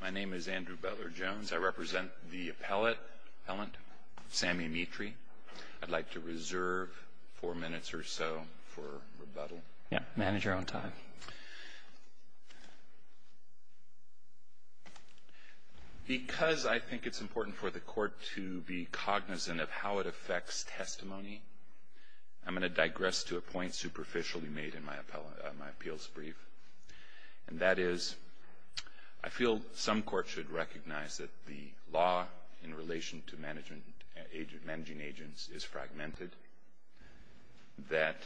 My name is Andrew Butler-Jones. I represent the appellant, Sammy Mitri. I'd like to reserve four minutes or so for rebuttal. Yeah, manage your own time. Because I think it's important for the court to be cognizant of how it affects testimony, I'm going to digress to a point superficially made in my appeals brief. And that is, I feel some court should recognize that the law in relation to managing agents is fragmented, that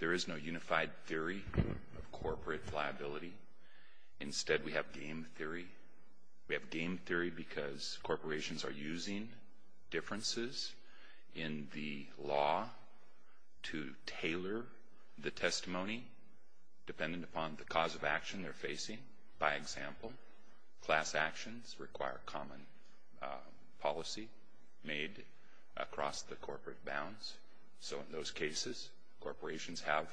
there is no unified theory of corporate liability. Instead, we have game theory. We have game theory because corporations are using differences in the law to tailor the testimony dependent upon the cause of action they're facing, by example. Class actions require common policy made across the corporate bounds. So in those cases, corporations have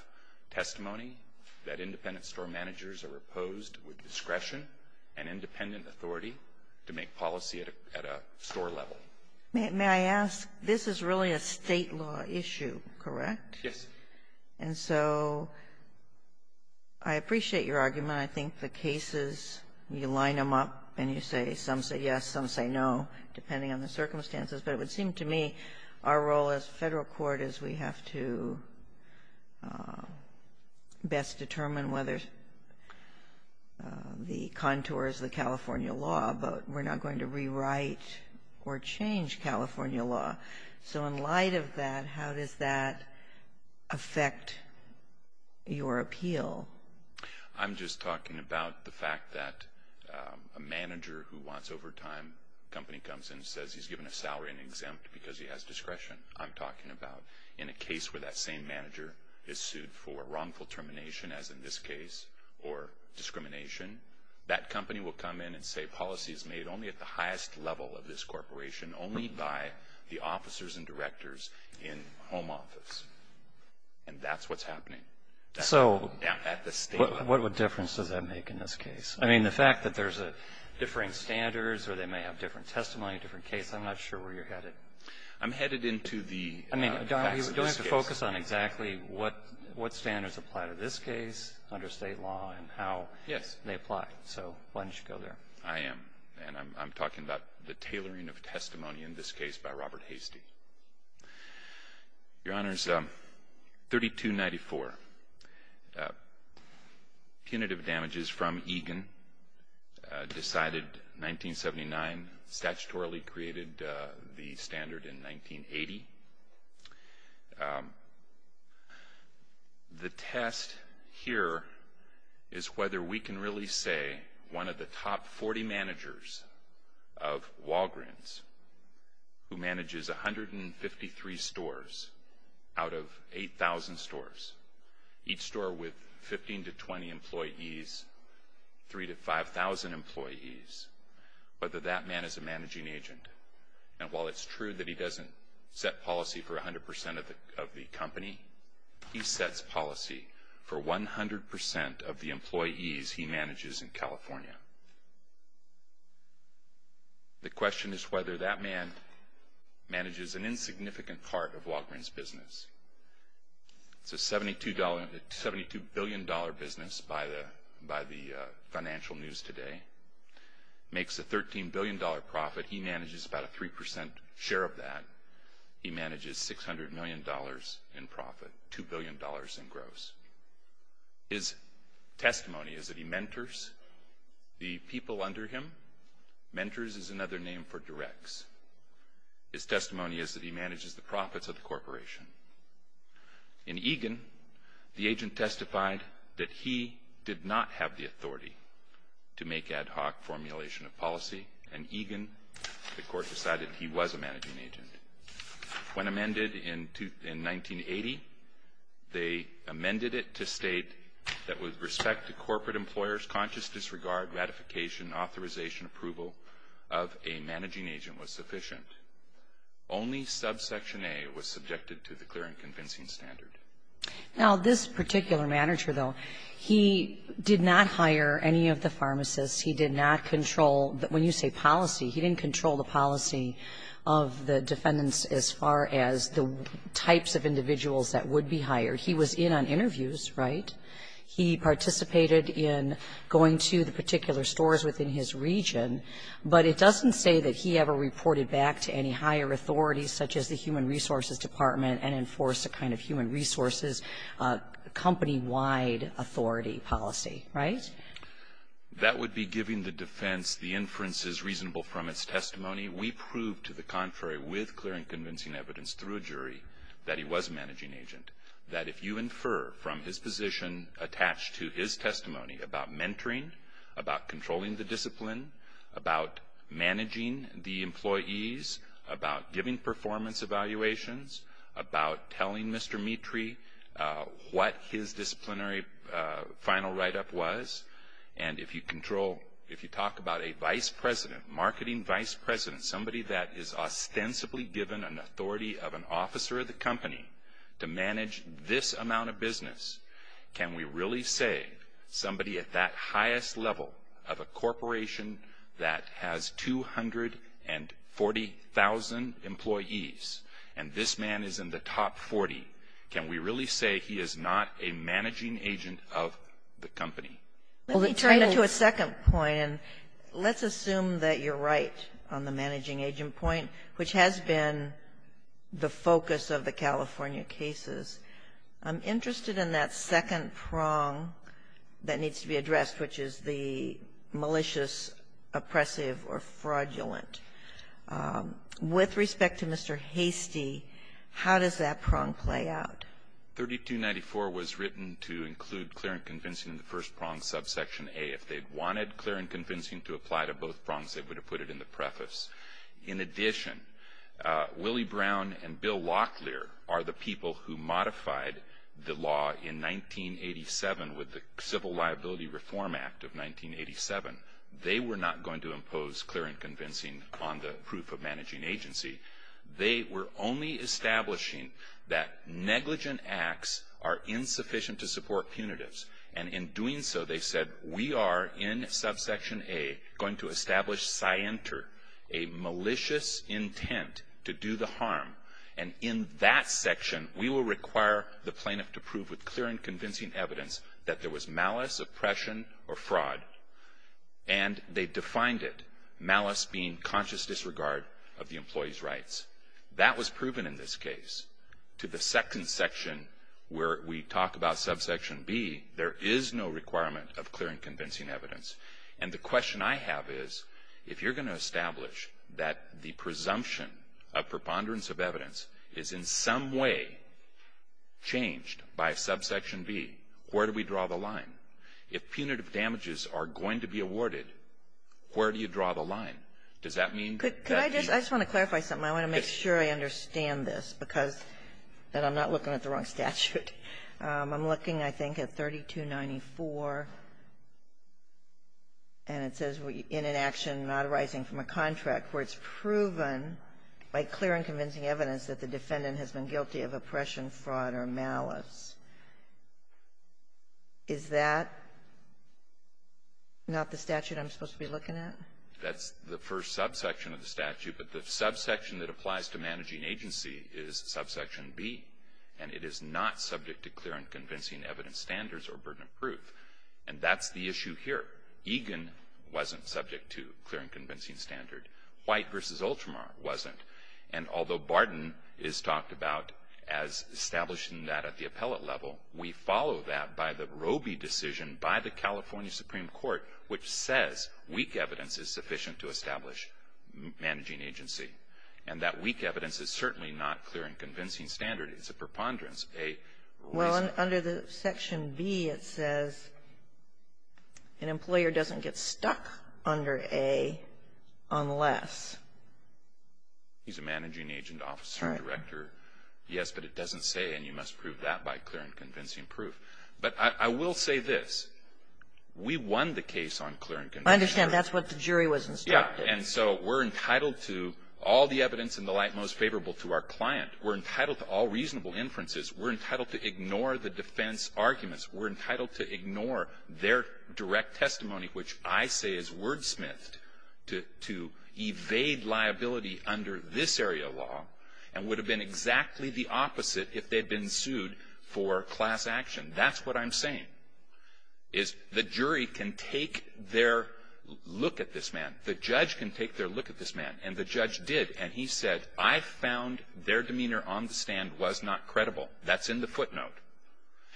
testimony that independent store managers are opposed with discretion and independent authority to make policy at a store level. May I ask, this is really a state law issue, correct? Yes. And so I appreciate your argument. I think the cases, you line them up, and you say some say yes, some say no, depending on the circumstances. But it would seem to me our role as Federal Court is we have to best determine whether the contour is the California law, but we're not going to rewrite or change California law. So in light of that, how does that affect your appeal? I'm just talking about the fact that a manager who wants overtime, company comes in and says he's given a salary and exempt because he has discretion. I'm talking about in a case where that same manager is sued for wrongful termination, as in this case, or discrimination, that company will come in and say policy is made only at the highest level of this corporation, only by the officers and directors in home office. And that's what's happening. So what difference does that make in this case? I mean, the fact that there's differing standards, or they may have different testimony, different case, I'm not sure where you're headed. I'm headed into the facts of this case. You don't have to focus on exactly what standards apply to this case under state law and how they apply. So why don't you go there? I am. And I'm talking about the tailoring of testimony, in this case, by Robert Hastie. Your Honors, 3294, punitive damages from Egan, decided 1979, statutorily created the standard in 1980. The test here is whether we can really say one of the top 40 managers of Walgreens, who manages 153 stores out of 8,000 stores, each store with 15 to 20 employees, 3,000 to 5,000 employees, whether that man is a managing agent. And while it's true that he doesn't set policy for 100% of the company, he sets policy for 100% of the employees he manages in California. The question is whether that man manages an insignificant part of Walgreens' business. It's a $72 billion business by the financial news today. Makes a $13 billion profit. He manages about a 3% share of that. He manages $600 million in profit, $2 billion in gross. His testimony is that he mentors the people under him. Mentors is another name for directs. His testimony is that he manages the profits of the corporation. In Egan, the agent testified that he did not have the authority to make ad hoc formulation of policy. In Egan, the court decided he was a managing agent. When amended in 1980, they amended it to state that with respect to corporate employers, conscious disregard, ratification, authorization, approval of a managing agent was sufficient. Only subsection A was subjected to the clear and convincing standard. Now, this particular manager, though, he did not hire any of the pharmacists. He did not control, when you say policy, he didn't control the policy of the defendants as far as the types of individuals that would be hired. He was in on interviews, right? He participated in going to the particular stores within his region. But it doesn't say that he ever reported back to any higher authorities, such as the Human Resources Department, and enforced a kind of human resources company-wide authority policy, right? That would be giving the defense the inferences reasonable from its testimony. We proved, to the contrary, with clear and convincing evidence through a jury, that he was a managing agent. That if you infer from his position attached to his testimony about mentoring, about controlling the discipline, about managing the employees, about giving performance evaluations, about telling Mr. Mitri what his disciplinary final write-up was, and if you control, if you talk about a vice president, marketing vice president, somebody that is ostensibly given an authority of an officer of the company to manage this amount of business, can we really say somebody at that highest level of a corporation that has 240,000 employees, and this man is in the top 40, can we really say he is not a managing agent of the company? Let me turn it to a second point, and let's assume that you're right on the managing agent point, which has been the focus of the California cases. I'm interested in that second prong that needs to be addressed, which is the malicious, oppressive, or fraudulent. With respect to Mr. Hastie, how does that prong play out? 3294 was written to include clear and convincing in the first prong subsection A. If they wanted clear and convincing to apply to both prongs, they would have put it in the preface. In addition, Willie Brown and Bill Locklear are the people who modified the law in 1987 with the Civil Liability Reform Act of 1987. They were not going to impose clear and convincing on the proof of managing agency. They were only establishing that negligent acts are insufficient to support punitives. And in doing so, they said, we are in subsection A going to establish scienter, a malicious intent to do the harm. And in that section, we will require the plaintiff to prove with clear and convincing evidence that there was malice, oppression, or fraud. And they defined it, malice being conscious disregard of the employee's rights. That was proven in this case. To the second section, where we talk about subsection B, there is no requirement of clear and convincing evidence. And the question I have is, if you're gonna establish that the presumption of preponderance of evidence is in some way changed by subsection B, where do we draw the line? If punitive damages are going to be awarded, where do you draw the line? Does that mean? Can I just? I just want to clarify something. I want to make sure I understand this, because then I'm not looking at the wrong statute. I'm looking, I think, at 3294, and it says, we're in an action not arising from a contract, where it's proven by clear and convincing evidence that the defendant has been guilty of oppression, fraud, or malice. Is that not the statute I'm supposed to be looking at? That's the first subsection of the statute, but the subsection that applies to managing agency is subsection B, and it is not subject to clear and convincing evidence standards or burden of proof. And that's the issue here. Egan wasn't subject to clear and convincing standard. White versus Ultramar wasn't. And although Barden is talked about as establishing that at the appellate level, we follow that by the Roby decision by the California Supreme Court, which says weak evidence is sufficient to establish managing agency. And that weak evidence is certainly not clear and convincing standard. It's a preponderance. Well, under the section B, it says an employer doesn't get stuck under A unless. He's a managing agent, officer, director. Yes, but it doesn't say, and you must prove that by clear and convincing proof. But I will say this. We won the case on clear and convincing proof. I understand. That's what the jury was instructed. Yeah. And so we're entitled to all the evidence in the light most favorable to our client. We're entitled to all reasonable inferences. We're entitled to ignore the defense arguments. We're entitled to ignore their direct testimony, which I say is wordsmithed to evade liability under this area of law and would have been exactly the opposite if they'd been sued for class action. That's what I'm saying, is the jury can take their look at this man. The judge can take their look at this man. And the judge did. And he said, I found their demeanor on the stand was not credible. That's in the footnote.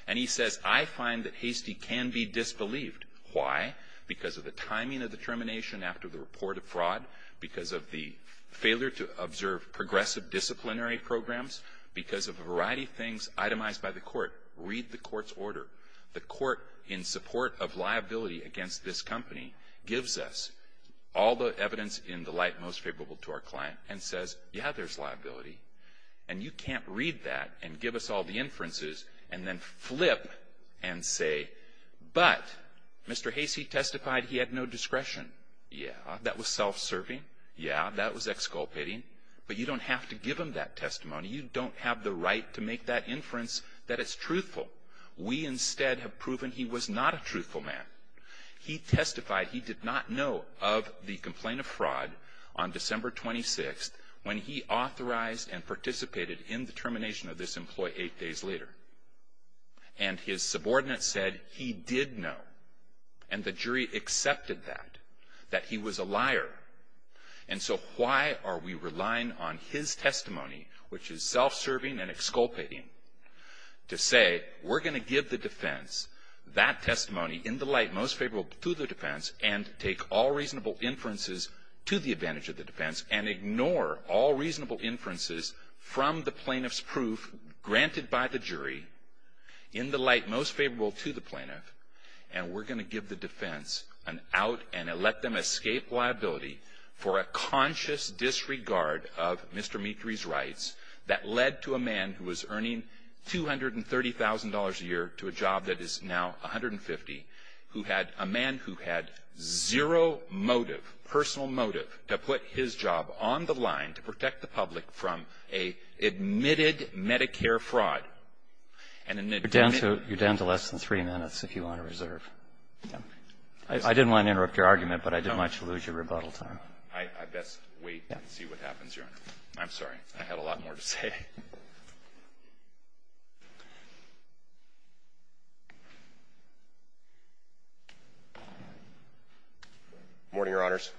And he says, I find that Hastie can be disbelieved. Why? Because of the timing of the termination after the report of fraud, because of the failure to observe progressive disciplinary programs, because of a variety of things itemized by the court. Read the court's order. The court, in support of liability against this company, gives us all the evidence in the light most favorable to our client and says, yeah, there's liability. And you can't read that and give us all the inferences and then flip and say, but Mr. Hastie testified he had no discretion. Yeah, that was self-serving. Yeah, that was exculpating. But you don't have to give him that testimony. You don't have the right to make that inference that it's truthful. We instead have proven he was not a truthful man. He testified he did not know of the complaint of fraud on December 26 when he authorized and participated in the termination of this employee eight days later. And his subordinate said he did know. And the jury accepted that, that he was a liar. And so why are we relying on his testimony, which is self-serving and exculpating, to say, we're going to give the defense that testimony in the light most favorable to the defense and take all reasonable inferences to the advantage of the defense and ignore all reasonable inferences from the plaintiff's proof granted by the jury in the light most favorable to the plaintiff. And we're going to give the defense an out and let them escape liability for a conscious disregard of Mr. Mitri's rights that led to a man who was earning $230,000 a year to a job that is now $150,000, who had a man who had zero motive, personal motive, to put his job on the line to protect the public from a admitted Medicare fraud. And an admitted- You're down to less than three minutes if you want to reserve. I didn't want to interrupt your argument, but I did want you to lose your rebuttal time. I best wait and see what happens, Your Honor. I'm sorry. I had a lot more to say. Morning, Your Honors.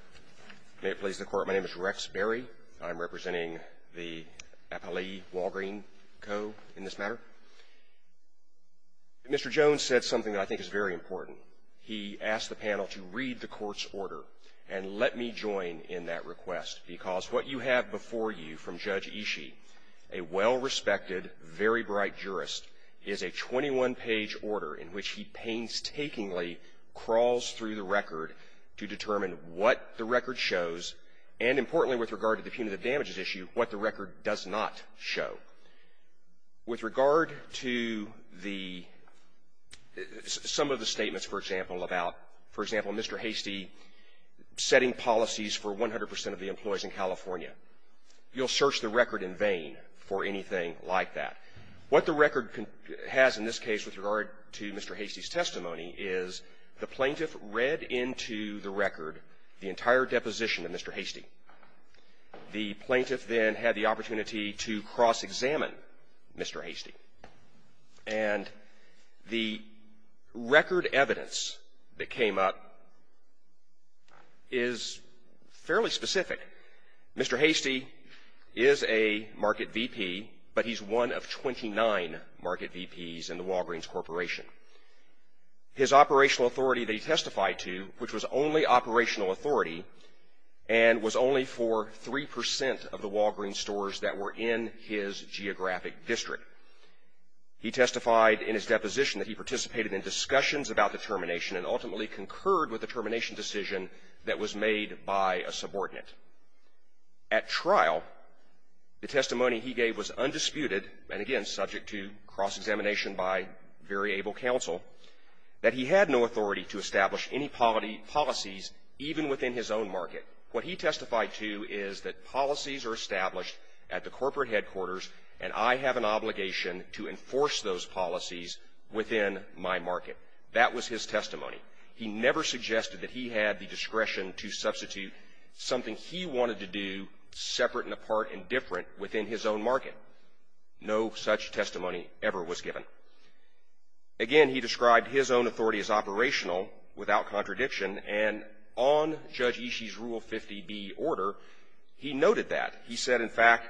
May it please the Court. My name is Rex Berry. I'm representing the Appalachee Walgreen Co. in this matter. Mr. Jones said something that I think is very important. He asked the panel to read the Court's order and let me join in that request, because what you have before you from Judge Ishii, a well-respected, very bright jurist, is a 21-page order in which he painstakingly crawls through the record to determine what the record shows, and importantly with regard to the punitive damages issue, what the record does not show. With regard to the some of the statements, for example, about, for example, Mr. Hastie setting policies for 100 percent of the employees in California, you'll search the record in vain for anything like that. What the record has in this case with regard to Mr. Hastie's testimony is the plaintiff read into the record the entire deposition of Mr. Hastie. The plaintiff then had the opportunity to cross-examine Mr. Hastie. And the record evidence that came up is fairly specific. Mr. Hastie is a market VP, but he's one of 29 market VPs in the Walgreens Corporation. His operational authority that he testified to, which was only operational authority, and was only for 3 percent of the Walgreens stores that were in his geographic district. He testified in his deposition that he participated in discussions about the termination and ultimately concurred with the termination decision that was made by a subordinate. At trial, the testimony he gave was undisputed, and again, subject to cross-examination by very able counsel, that he had no authority to establish any policies even within his own market. What he testified to is that policies are established at the corporate headquarters, and I have an obligation to enforce those policies within my market. That was his testimony. He never suggested that he had the discretion to substitute something he wanted to do separate and apart and different within his own market. No such testimony ever was given. Again, he described his own authority as operational, without contradiction, and on Judge Ishii's Rule 50B order, he noted that. He said, in fact,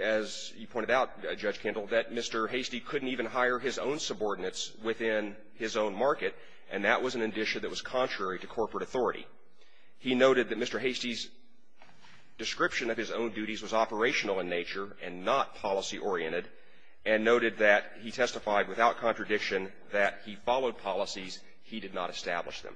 as you pointed out, Judge Kendall, that Mr. Hastie couldn't even hire his own subordinates within his own market, and that was an inditia that was contrary to corporate authority. He noted that Mr. Hastie's description of his own duties was operational in nature and not policy-oriented, and noted that he testified, without contradiction, that he followed policies. He did not establish them.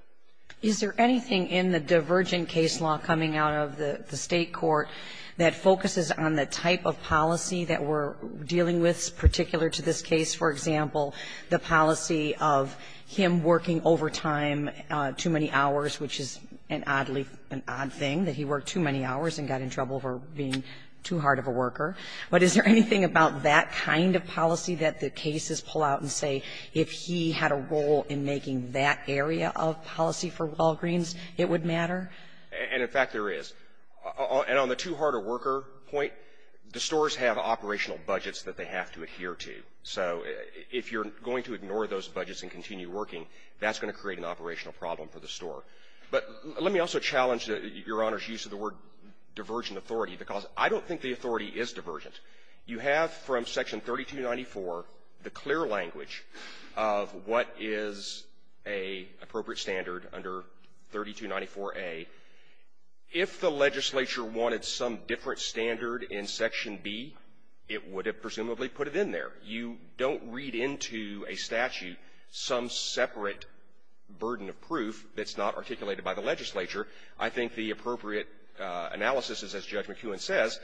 Is there anything in the divergent case law coming out of the state court that focuses on the type of policy that we're dealing with, particular to this case, for example, the policy of him working over time too many hours, which is an odd thing, that he worked too many hours and got in trouble for being too hard of a worker? But is there anything about that kind of policy that the cases pull out and say, if he had a role in making that area of policy for Walgreens, it would matter? And, in fact, there is. And on the too-hard-a-worker point, the stores have operational budgets that they have to adhere to. So if you're going to ignore those budgets and continue working, that's going to create an operational problem for the store. But let me also challenge Your Honor's use of the word divergent authority, because I don't think the authority is divergent. You have from Section 3294 the clear language of what is an appropriate standard under 3294A. If the legislature wanted some different standard in Section B, it would have presumably put it in there. You don't read into a statute some separate burden of proof that's not articulated by the legislature. I think the appropriate analysis is, as Judge McEwen says,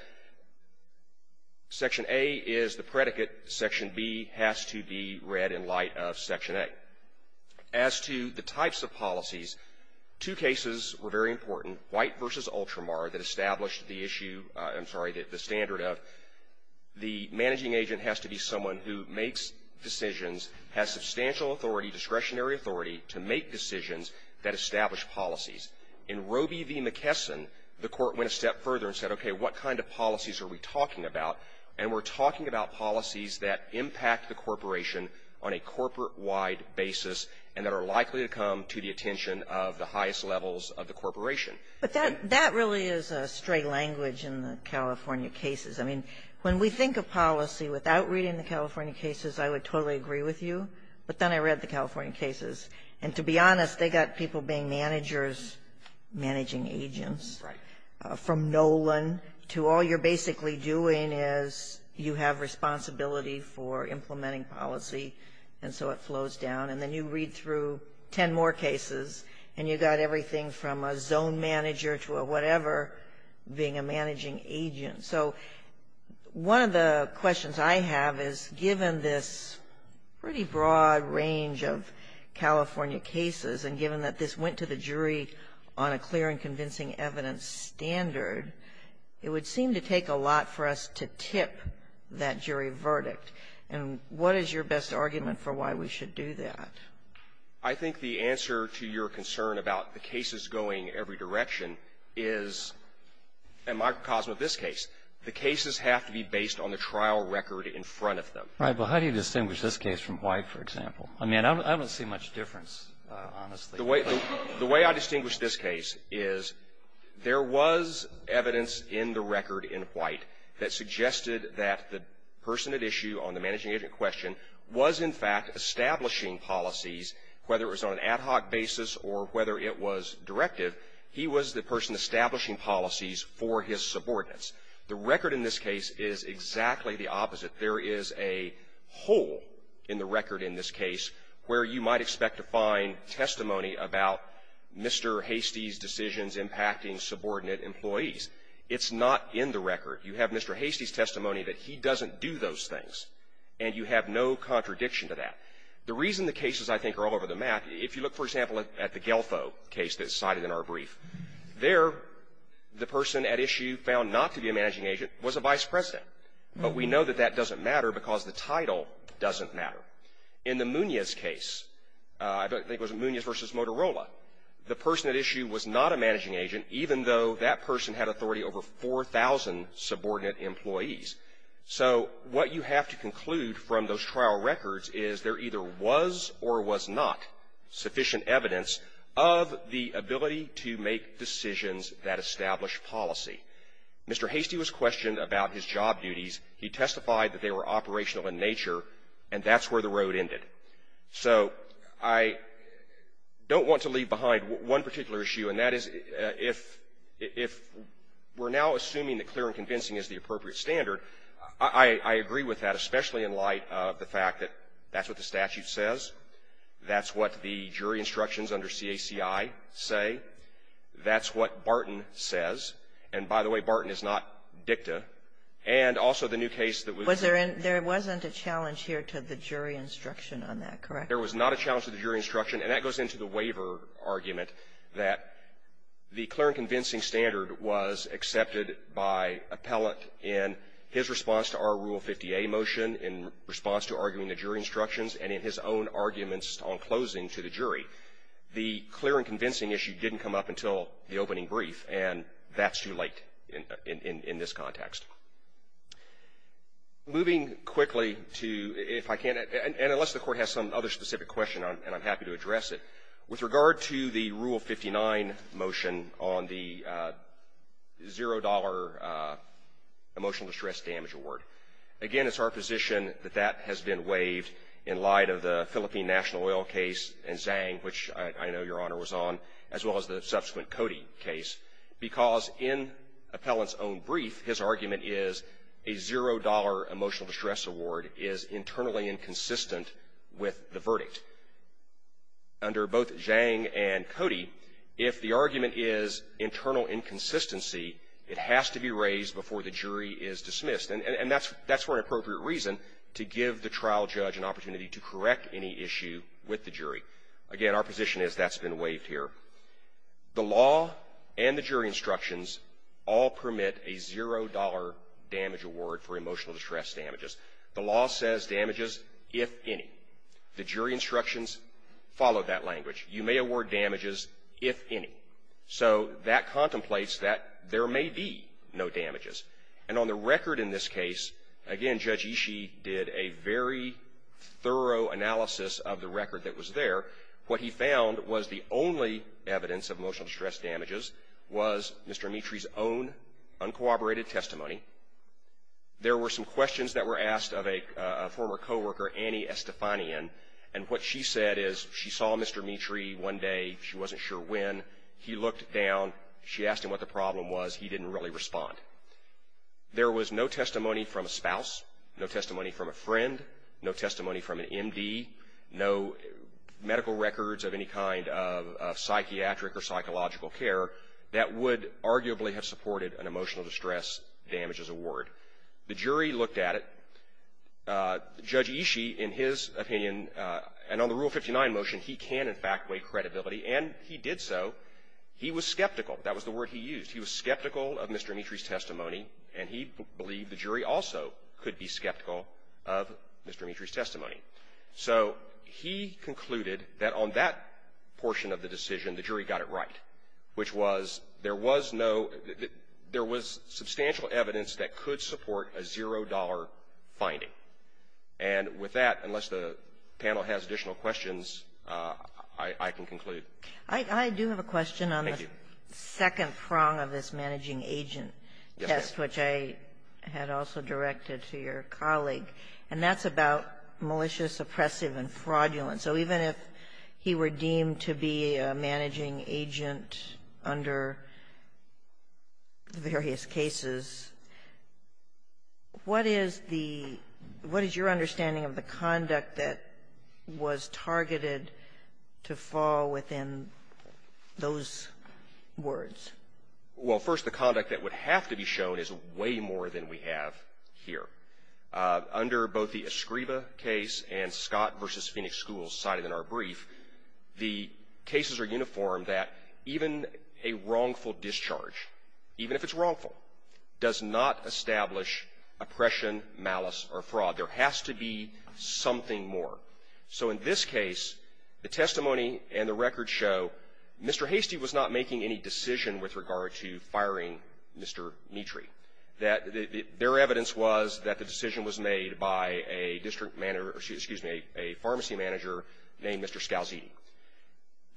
Section A is the predicate. Section B has to be read in light of Section A. As to the types of policies, two cases were very important, White v. Ultramar, that established the issue of the standard of, the managing agent has to be someone who makes decisions, has substantial authority, discretionary authority, to make decisions that establish policies. In Roe v. McKesson, the court went a step further and said, OK, what kind of policies are we talking about? And we're talking about policies that impact the corporation on a corporate-wide basis and that are likely to come to the attention of the highest levels of the corporation. But that really is a stray language in the California cases. I mean, when we think of policy without reading the California cases, I would totally agree with you. But then I read the California cases, and to be honest, they got people being managers, managing agents. Right. From Nolan to all you're basically doing is you have responsibility for implementing policy, and so it flows down. And then you read through 10 more cases, and you got everything from a zone manager to a whatever being a managing agent. So one of the questions I have is, given this pretty broad range of California cases, and given that this went to the jury on a clear and convincing evidence standard, it would seem to take a lot for us to tip that jury verdict. And what is your best argument for why we should do that? I think the answer to your concern about the cases going every direction is a microcosm of this case. The cases have to be based on the trial record in front of them. Right. But how do you distinguish this case from White, for example? I mean, I don't see much difference, honestly. The way I distinguish this case is there was evidence in the record in White that suggested that the person at issue on the managing agent question was, in fact, establishing policies, whether it was on an ad hoc basis or whether it was directive. He was the person establishing policies for his subordinates. The record in this case is exactly the opposite. There is a hole in the record in this case where you might expect to find testimony about Mr. Hastie's decisions impacting subordinate employees. It's not in the record. You have Mr. Hastie's testimony that he doesn't do those things, and you have no contradiction to that. The reason the cases, I think, are all over the map, if you look, for example, at the Guelfo case that's cited in our brief, there, the person at issue found not to be a managing agent was a vice president. But we know that that doesn't matter because the title doesn't matter. In the Munez case, I think it was Munez versus Motorola, the person at issue was not a managing agent, even though that person had authority over 4,000 subordinate employees. So what you have to conclude from those trial records is there either was or was not sufficient evidence of the ability to make decisions that establish policy. Mr. Hastie was questioned about his job duties. He testified that they were operational in nature, and that's where the road ended. So I don't want to leave behind one particular issue, and that is if we're now assuming that clear and convincing is the appropriate standard, I agree with that, especially in light of the fact that that's what the statute says, that's what the jury instructions under CACI say, that's what Barton says. And by the way, Barton is not dicta. And also the new case that we've heard of. There was not a challenge here to the jury instruction on that, correct? There was not a challenge to the jury instruction. And that goes into the waiver argument, that the clear and convincing standard was accepted by appellant in his response to our Rule 50A motion, in response to arguing the jury instructions, and in his own arguments on closing to the jury. The clear and convincing issue didn't come up until the opening brief, and that's too late in this context. Moving quickly to, if I can, and unless the Court has some other specific question, and I'm happy to address it, with regard to the Rule 59 motion on the $0 emotional distress damage award. Again, it's our position that that has been waived in light of the Philippine National Oil case and Zhang, which I know Your Honor was on, as well as the subsequent Cody case, because in appellant's own brief, his argument is a $0 emotional distress award is internally inconsistent with the verdict. Under both Zhang and Cody, if the argument is internal inconsistency, it has to be raised before the jury is dismissed. And that's for an appropriate reason, to give the trial judge an opportunity to correct any issue with the jury. Again, our position is that's been waived here. The law and the jury instructions all permit a $0 damage award for emotional distress damages. The law says damages if any. The jury instructions follow that language. You may award damages if any. So that contemplates that there may be no damages. And on the record in this case, again, Judge Ishii did a very thorough analysis of the record that was there. What he found was the only evidence of emotional distress damages was Mr. Mitri's own uncooperated testimony. There were some questions that were asked of a former co-worker, Annie Estefanian. And what she said is she saw Mr. Mitri one day. She wasn't sure when. He looked down. She asked him what the problem was. He didn't really respond. There was no testimony from a spouse, no testimony from a friend, no testimony from an MD, no medical records of any kind of psychiatric or psychological care that would arguably have supported an emotional distress damages award. The jury looked at it. Judge Ishii, in his opinion, and on the Rule 59 motion, he can, in fact, weigh credibility. And he did so. He was skeptical. That was the word he used. He was skeptical of Mr. Mitri's testimony. And he believed the jury also could be skeptical of Mr. Mitri's testimony. So he concluded that on that portion of the decision, the jury got it right, which was there was no – there was substantial evidence that could support a zero-dollar finding. And with that, unless the panel has additional questions, I can conclude. I do have a question on the second prong of this managing agent test, which I had also directed to your colleague. And that's about malicious, oppressive, and fraudulent. So even if he were deemed to be a managing agent under the various cases, what is the – what is your understanding of the conduct that was targeted to fall within those words? Well, first, the conduct that would have to be shown is way more than we have here. Under both the Escriva case and Scott v. Phoenix Schools cited in our brief, the cases are uniform that even a wrongful discharge, even if it's wrongful, does not establish oppression, malice, or fraud. There has to be something more. So in this case, the testimony and the record show Mr. Hastie was not making any decision with regard to firing Mr. Mitri. That – their evidence was that the decision was made by a district manager – excuse me, a pharmacy manager named Mr. Scalziti.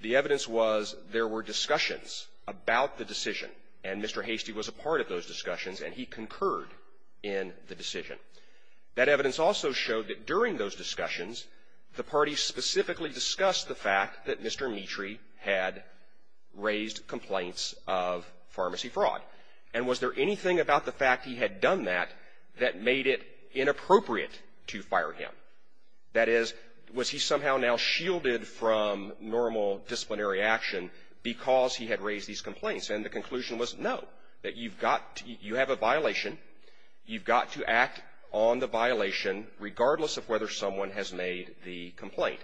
The evidence was there were discussions about the decision, and Mr. Hastie was a part of those discussions, and he concurred in the decision. That evidence also showed that during those discussions, the parties specifically discussed the fact that Mr. Mitri had raised complaints of pharmacy fraud. And was there anything about the fact he had done that that made it inappropriate to fire him? That is, was he somehow now shielded from normal disciplinary action because he had raised these complaints? And the conclusion was no, that you've got – you have a violation. You've got to act on the violation regardless of whether someone has made the complaint.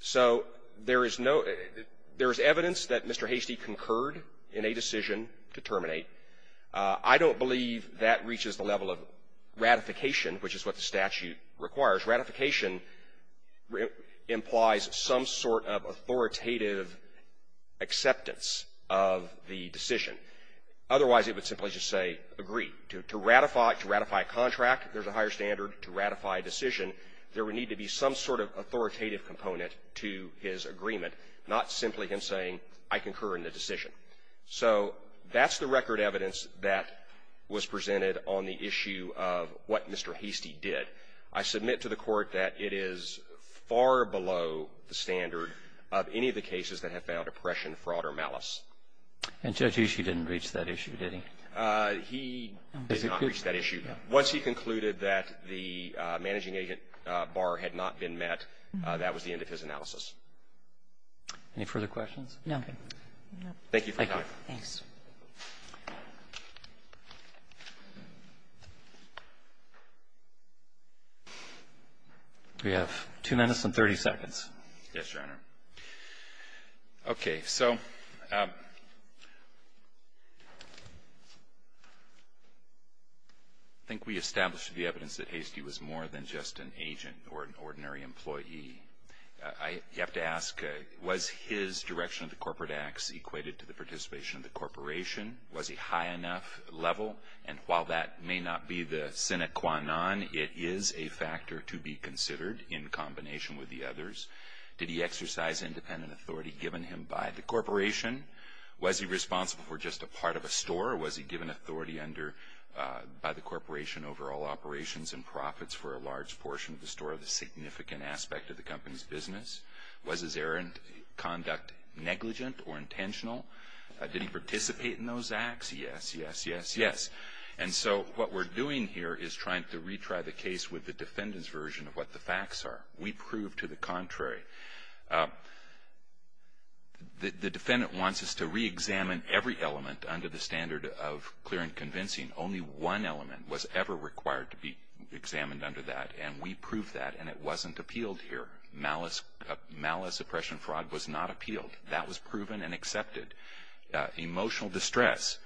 So there is no – there is evidence that Mr. Hastie concurred in a decision to terminate. I don't believe that reaches the level of ratification, which is what the statute requires. Ratification implies some sort of authoritative acceptance of the decision. Otherwise, it would simply just say, agree. To ratify – to ratify a contract, there's a higher standard. To ratify a decision, there would need to be some sort of authoritative component to his agreement, not simply him saying, I concur in the decision. So that's the record evidence that was presented on the issue of what Mr. Hastie did. I submit to the Court that it is far below the standard of any of the cases that have found oppression, fraud, or malice. And Judge Ishii didn't reach that issue, did he? He did not reach that issue. Once he concluded that the managing agent bar had not been met, that was the end of his analysis. Any further questions? No. Thank you for coming. Thanks. We have 2 minutes and 30 seconds. Yes, Your Honor. Okay. So I think we established the evidence that Hastie was more than just an agent or an ordinary employee. I have to ask, was his direction of the corporate acts equated to the participation of the corporation? Was he high enough level? And while that may not be the sine qua non, it is a factor to be considered in combination with the others. Did he exercise independent authority given him by the corporation? Was he responsible for just a part of a store? Or was he given authority by the corporation over all operations and the company's business? Was his errant conduct negligent or intentional? Did he participate in those acts? Yes, yes, yes, yes. And so what we're doing here is trying to retry the case with the defendant's version of what the facts are. We prove to the contrary. The defendant wants us to re-examine every element under the standard of clear and convincing. Only one element was ever required to be examined under that. And we proved that, and it wasn't appealed here. Malice, malice, oppression, fraud was not appealed. That was proven and accepted. Emotional distress.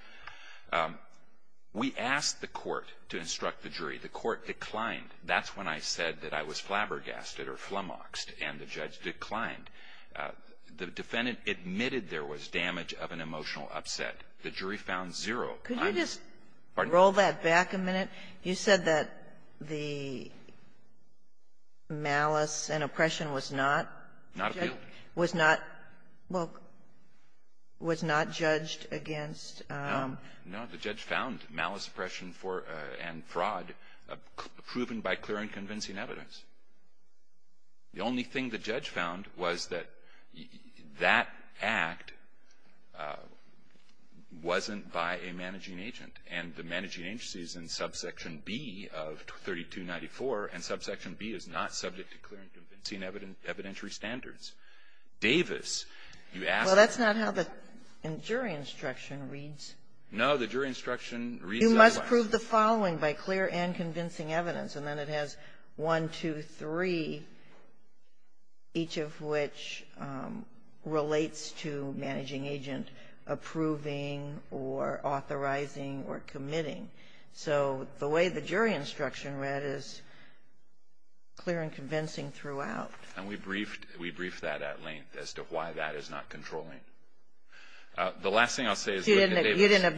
We asked the court to instruct the jury. The court declined. That's when I said that I was flabbergasted or flummoxed, and the judge declined. The defendant admitted there was damage of an emotional upset. The jury found zero. I'm just --" But the malice and oppression was not judged against the defendant? No. No. The judge found malice, oppression, and fraud proven by clear and convincing evidence. The only thing the judge found was that that act wasn't by a managing agent. And the managing agency is in subsection B of 3294, and subsection B is not subject to clear and convincing evidentiary standards. Davis, you asked the court to instruct the jury. Well, that's not how the jury instruction reads. No. The jury instruction reads otherwise. You must prove the following by clear and convincing evidence. And then it has one, two, three, each of which relates to managing agent approving or authorizing or committing. So the way the jury instruction read is clear and convincing throughout. And we briefed that at length as to why that is not controlling. The last thing I'll say is that Davis ---- You didn't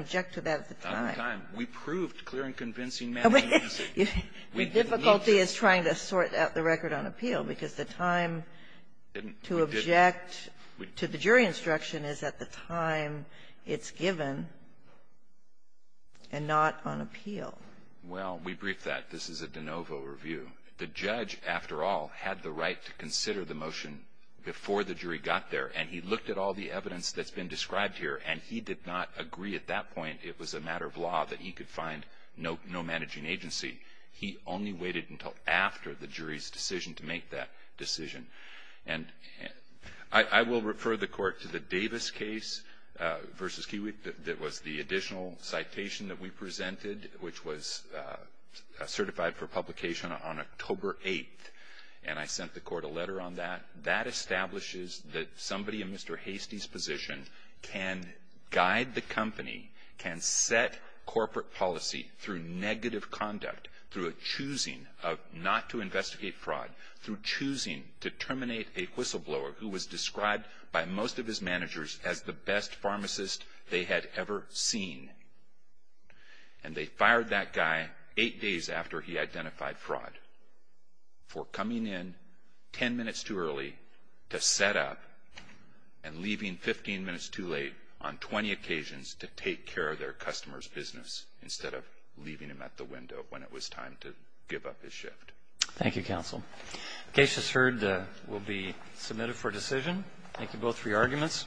object to that at the time. We proved clear and convincing managing agency. The difficulty is trying to sort out the record on appeal, because the time to object to the jury instruction is at the time it's given and not on appeal. Well, we briefed that. This is a de novo review. The judge, after all, had the right to consider the motion before the jury got there, and he looked at all the evidence that's been described here, and he did not agree at that point it was a matter of law that he could find no managing agency. He only waited until after the jury's decision to make that decision. And I will refer the court to the Davis case versus Kiewit that was the additional citation that we presented, which was certified for publication on October 8th. And I sent the court a letter on that. That establishes that somebody in Mr. Hastie's position can guide the company, can set corporate policy through negative conduct, through a choosing of not to investigate fraud, through choosing to terminate a whistleblower who was described by most of his managers as the best pharmacist they had ever seen. And they fired that guy eight days after he identified fraud for coming in 10 minutes too early to set up and leaving 15 minutes too late on 20 occasions to take care of their customer's business instead of leaving him at the window when it was time to give up his shift. Thank you, counsel. The case is heard. We'll be submitted for decision. Thank you both for your arguments.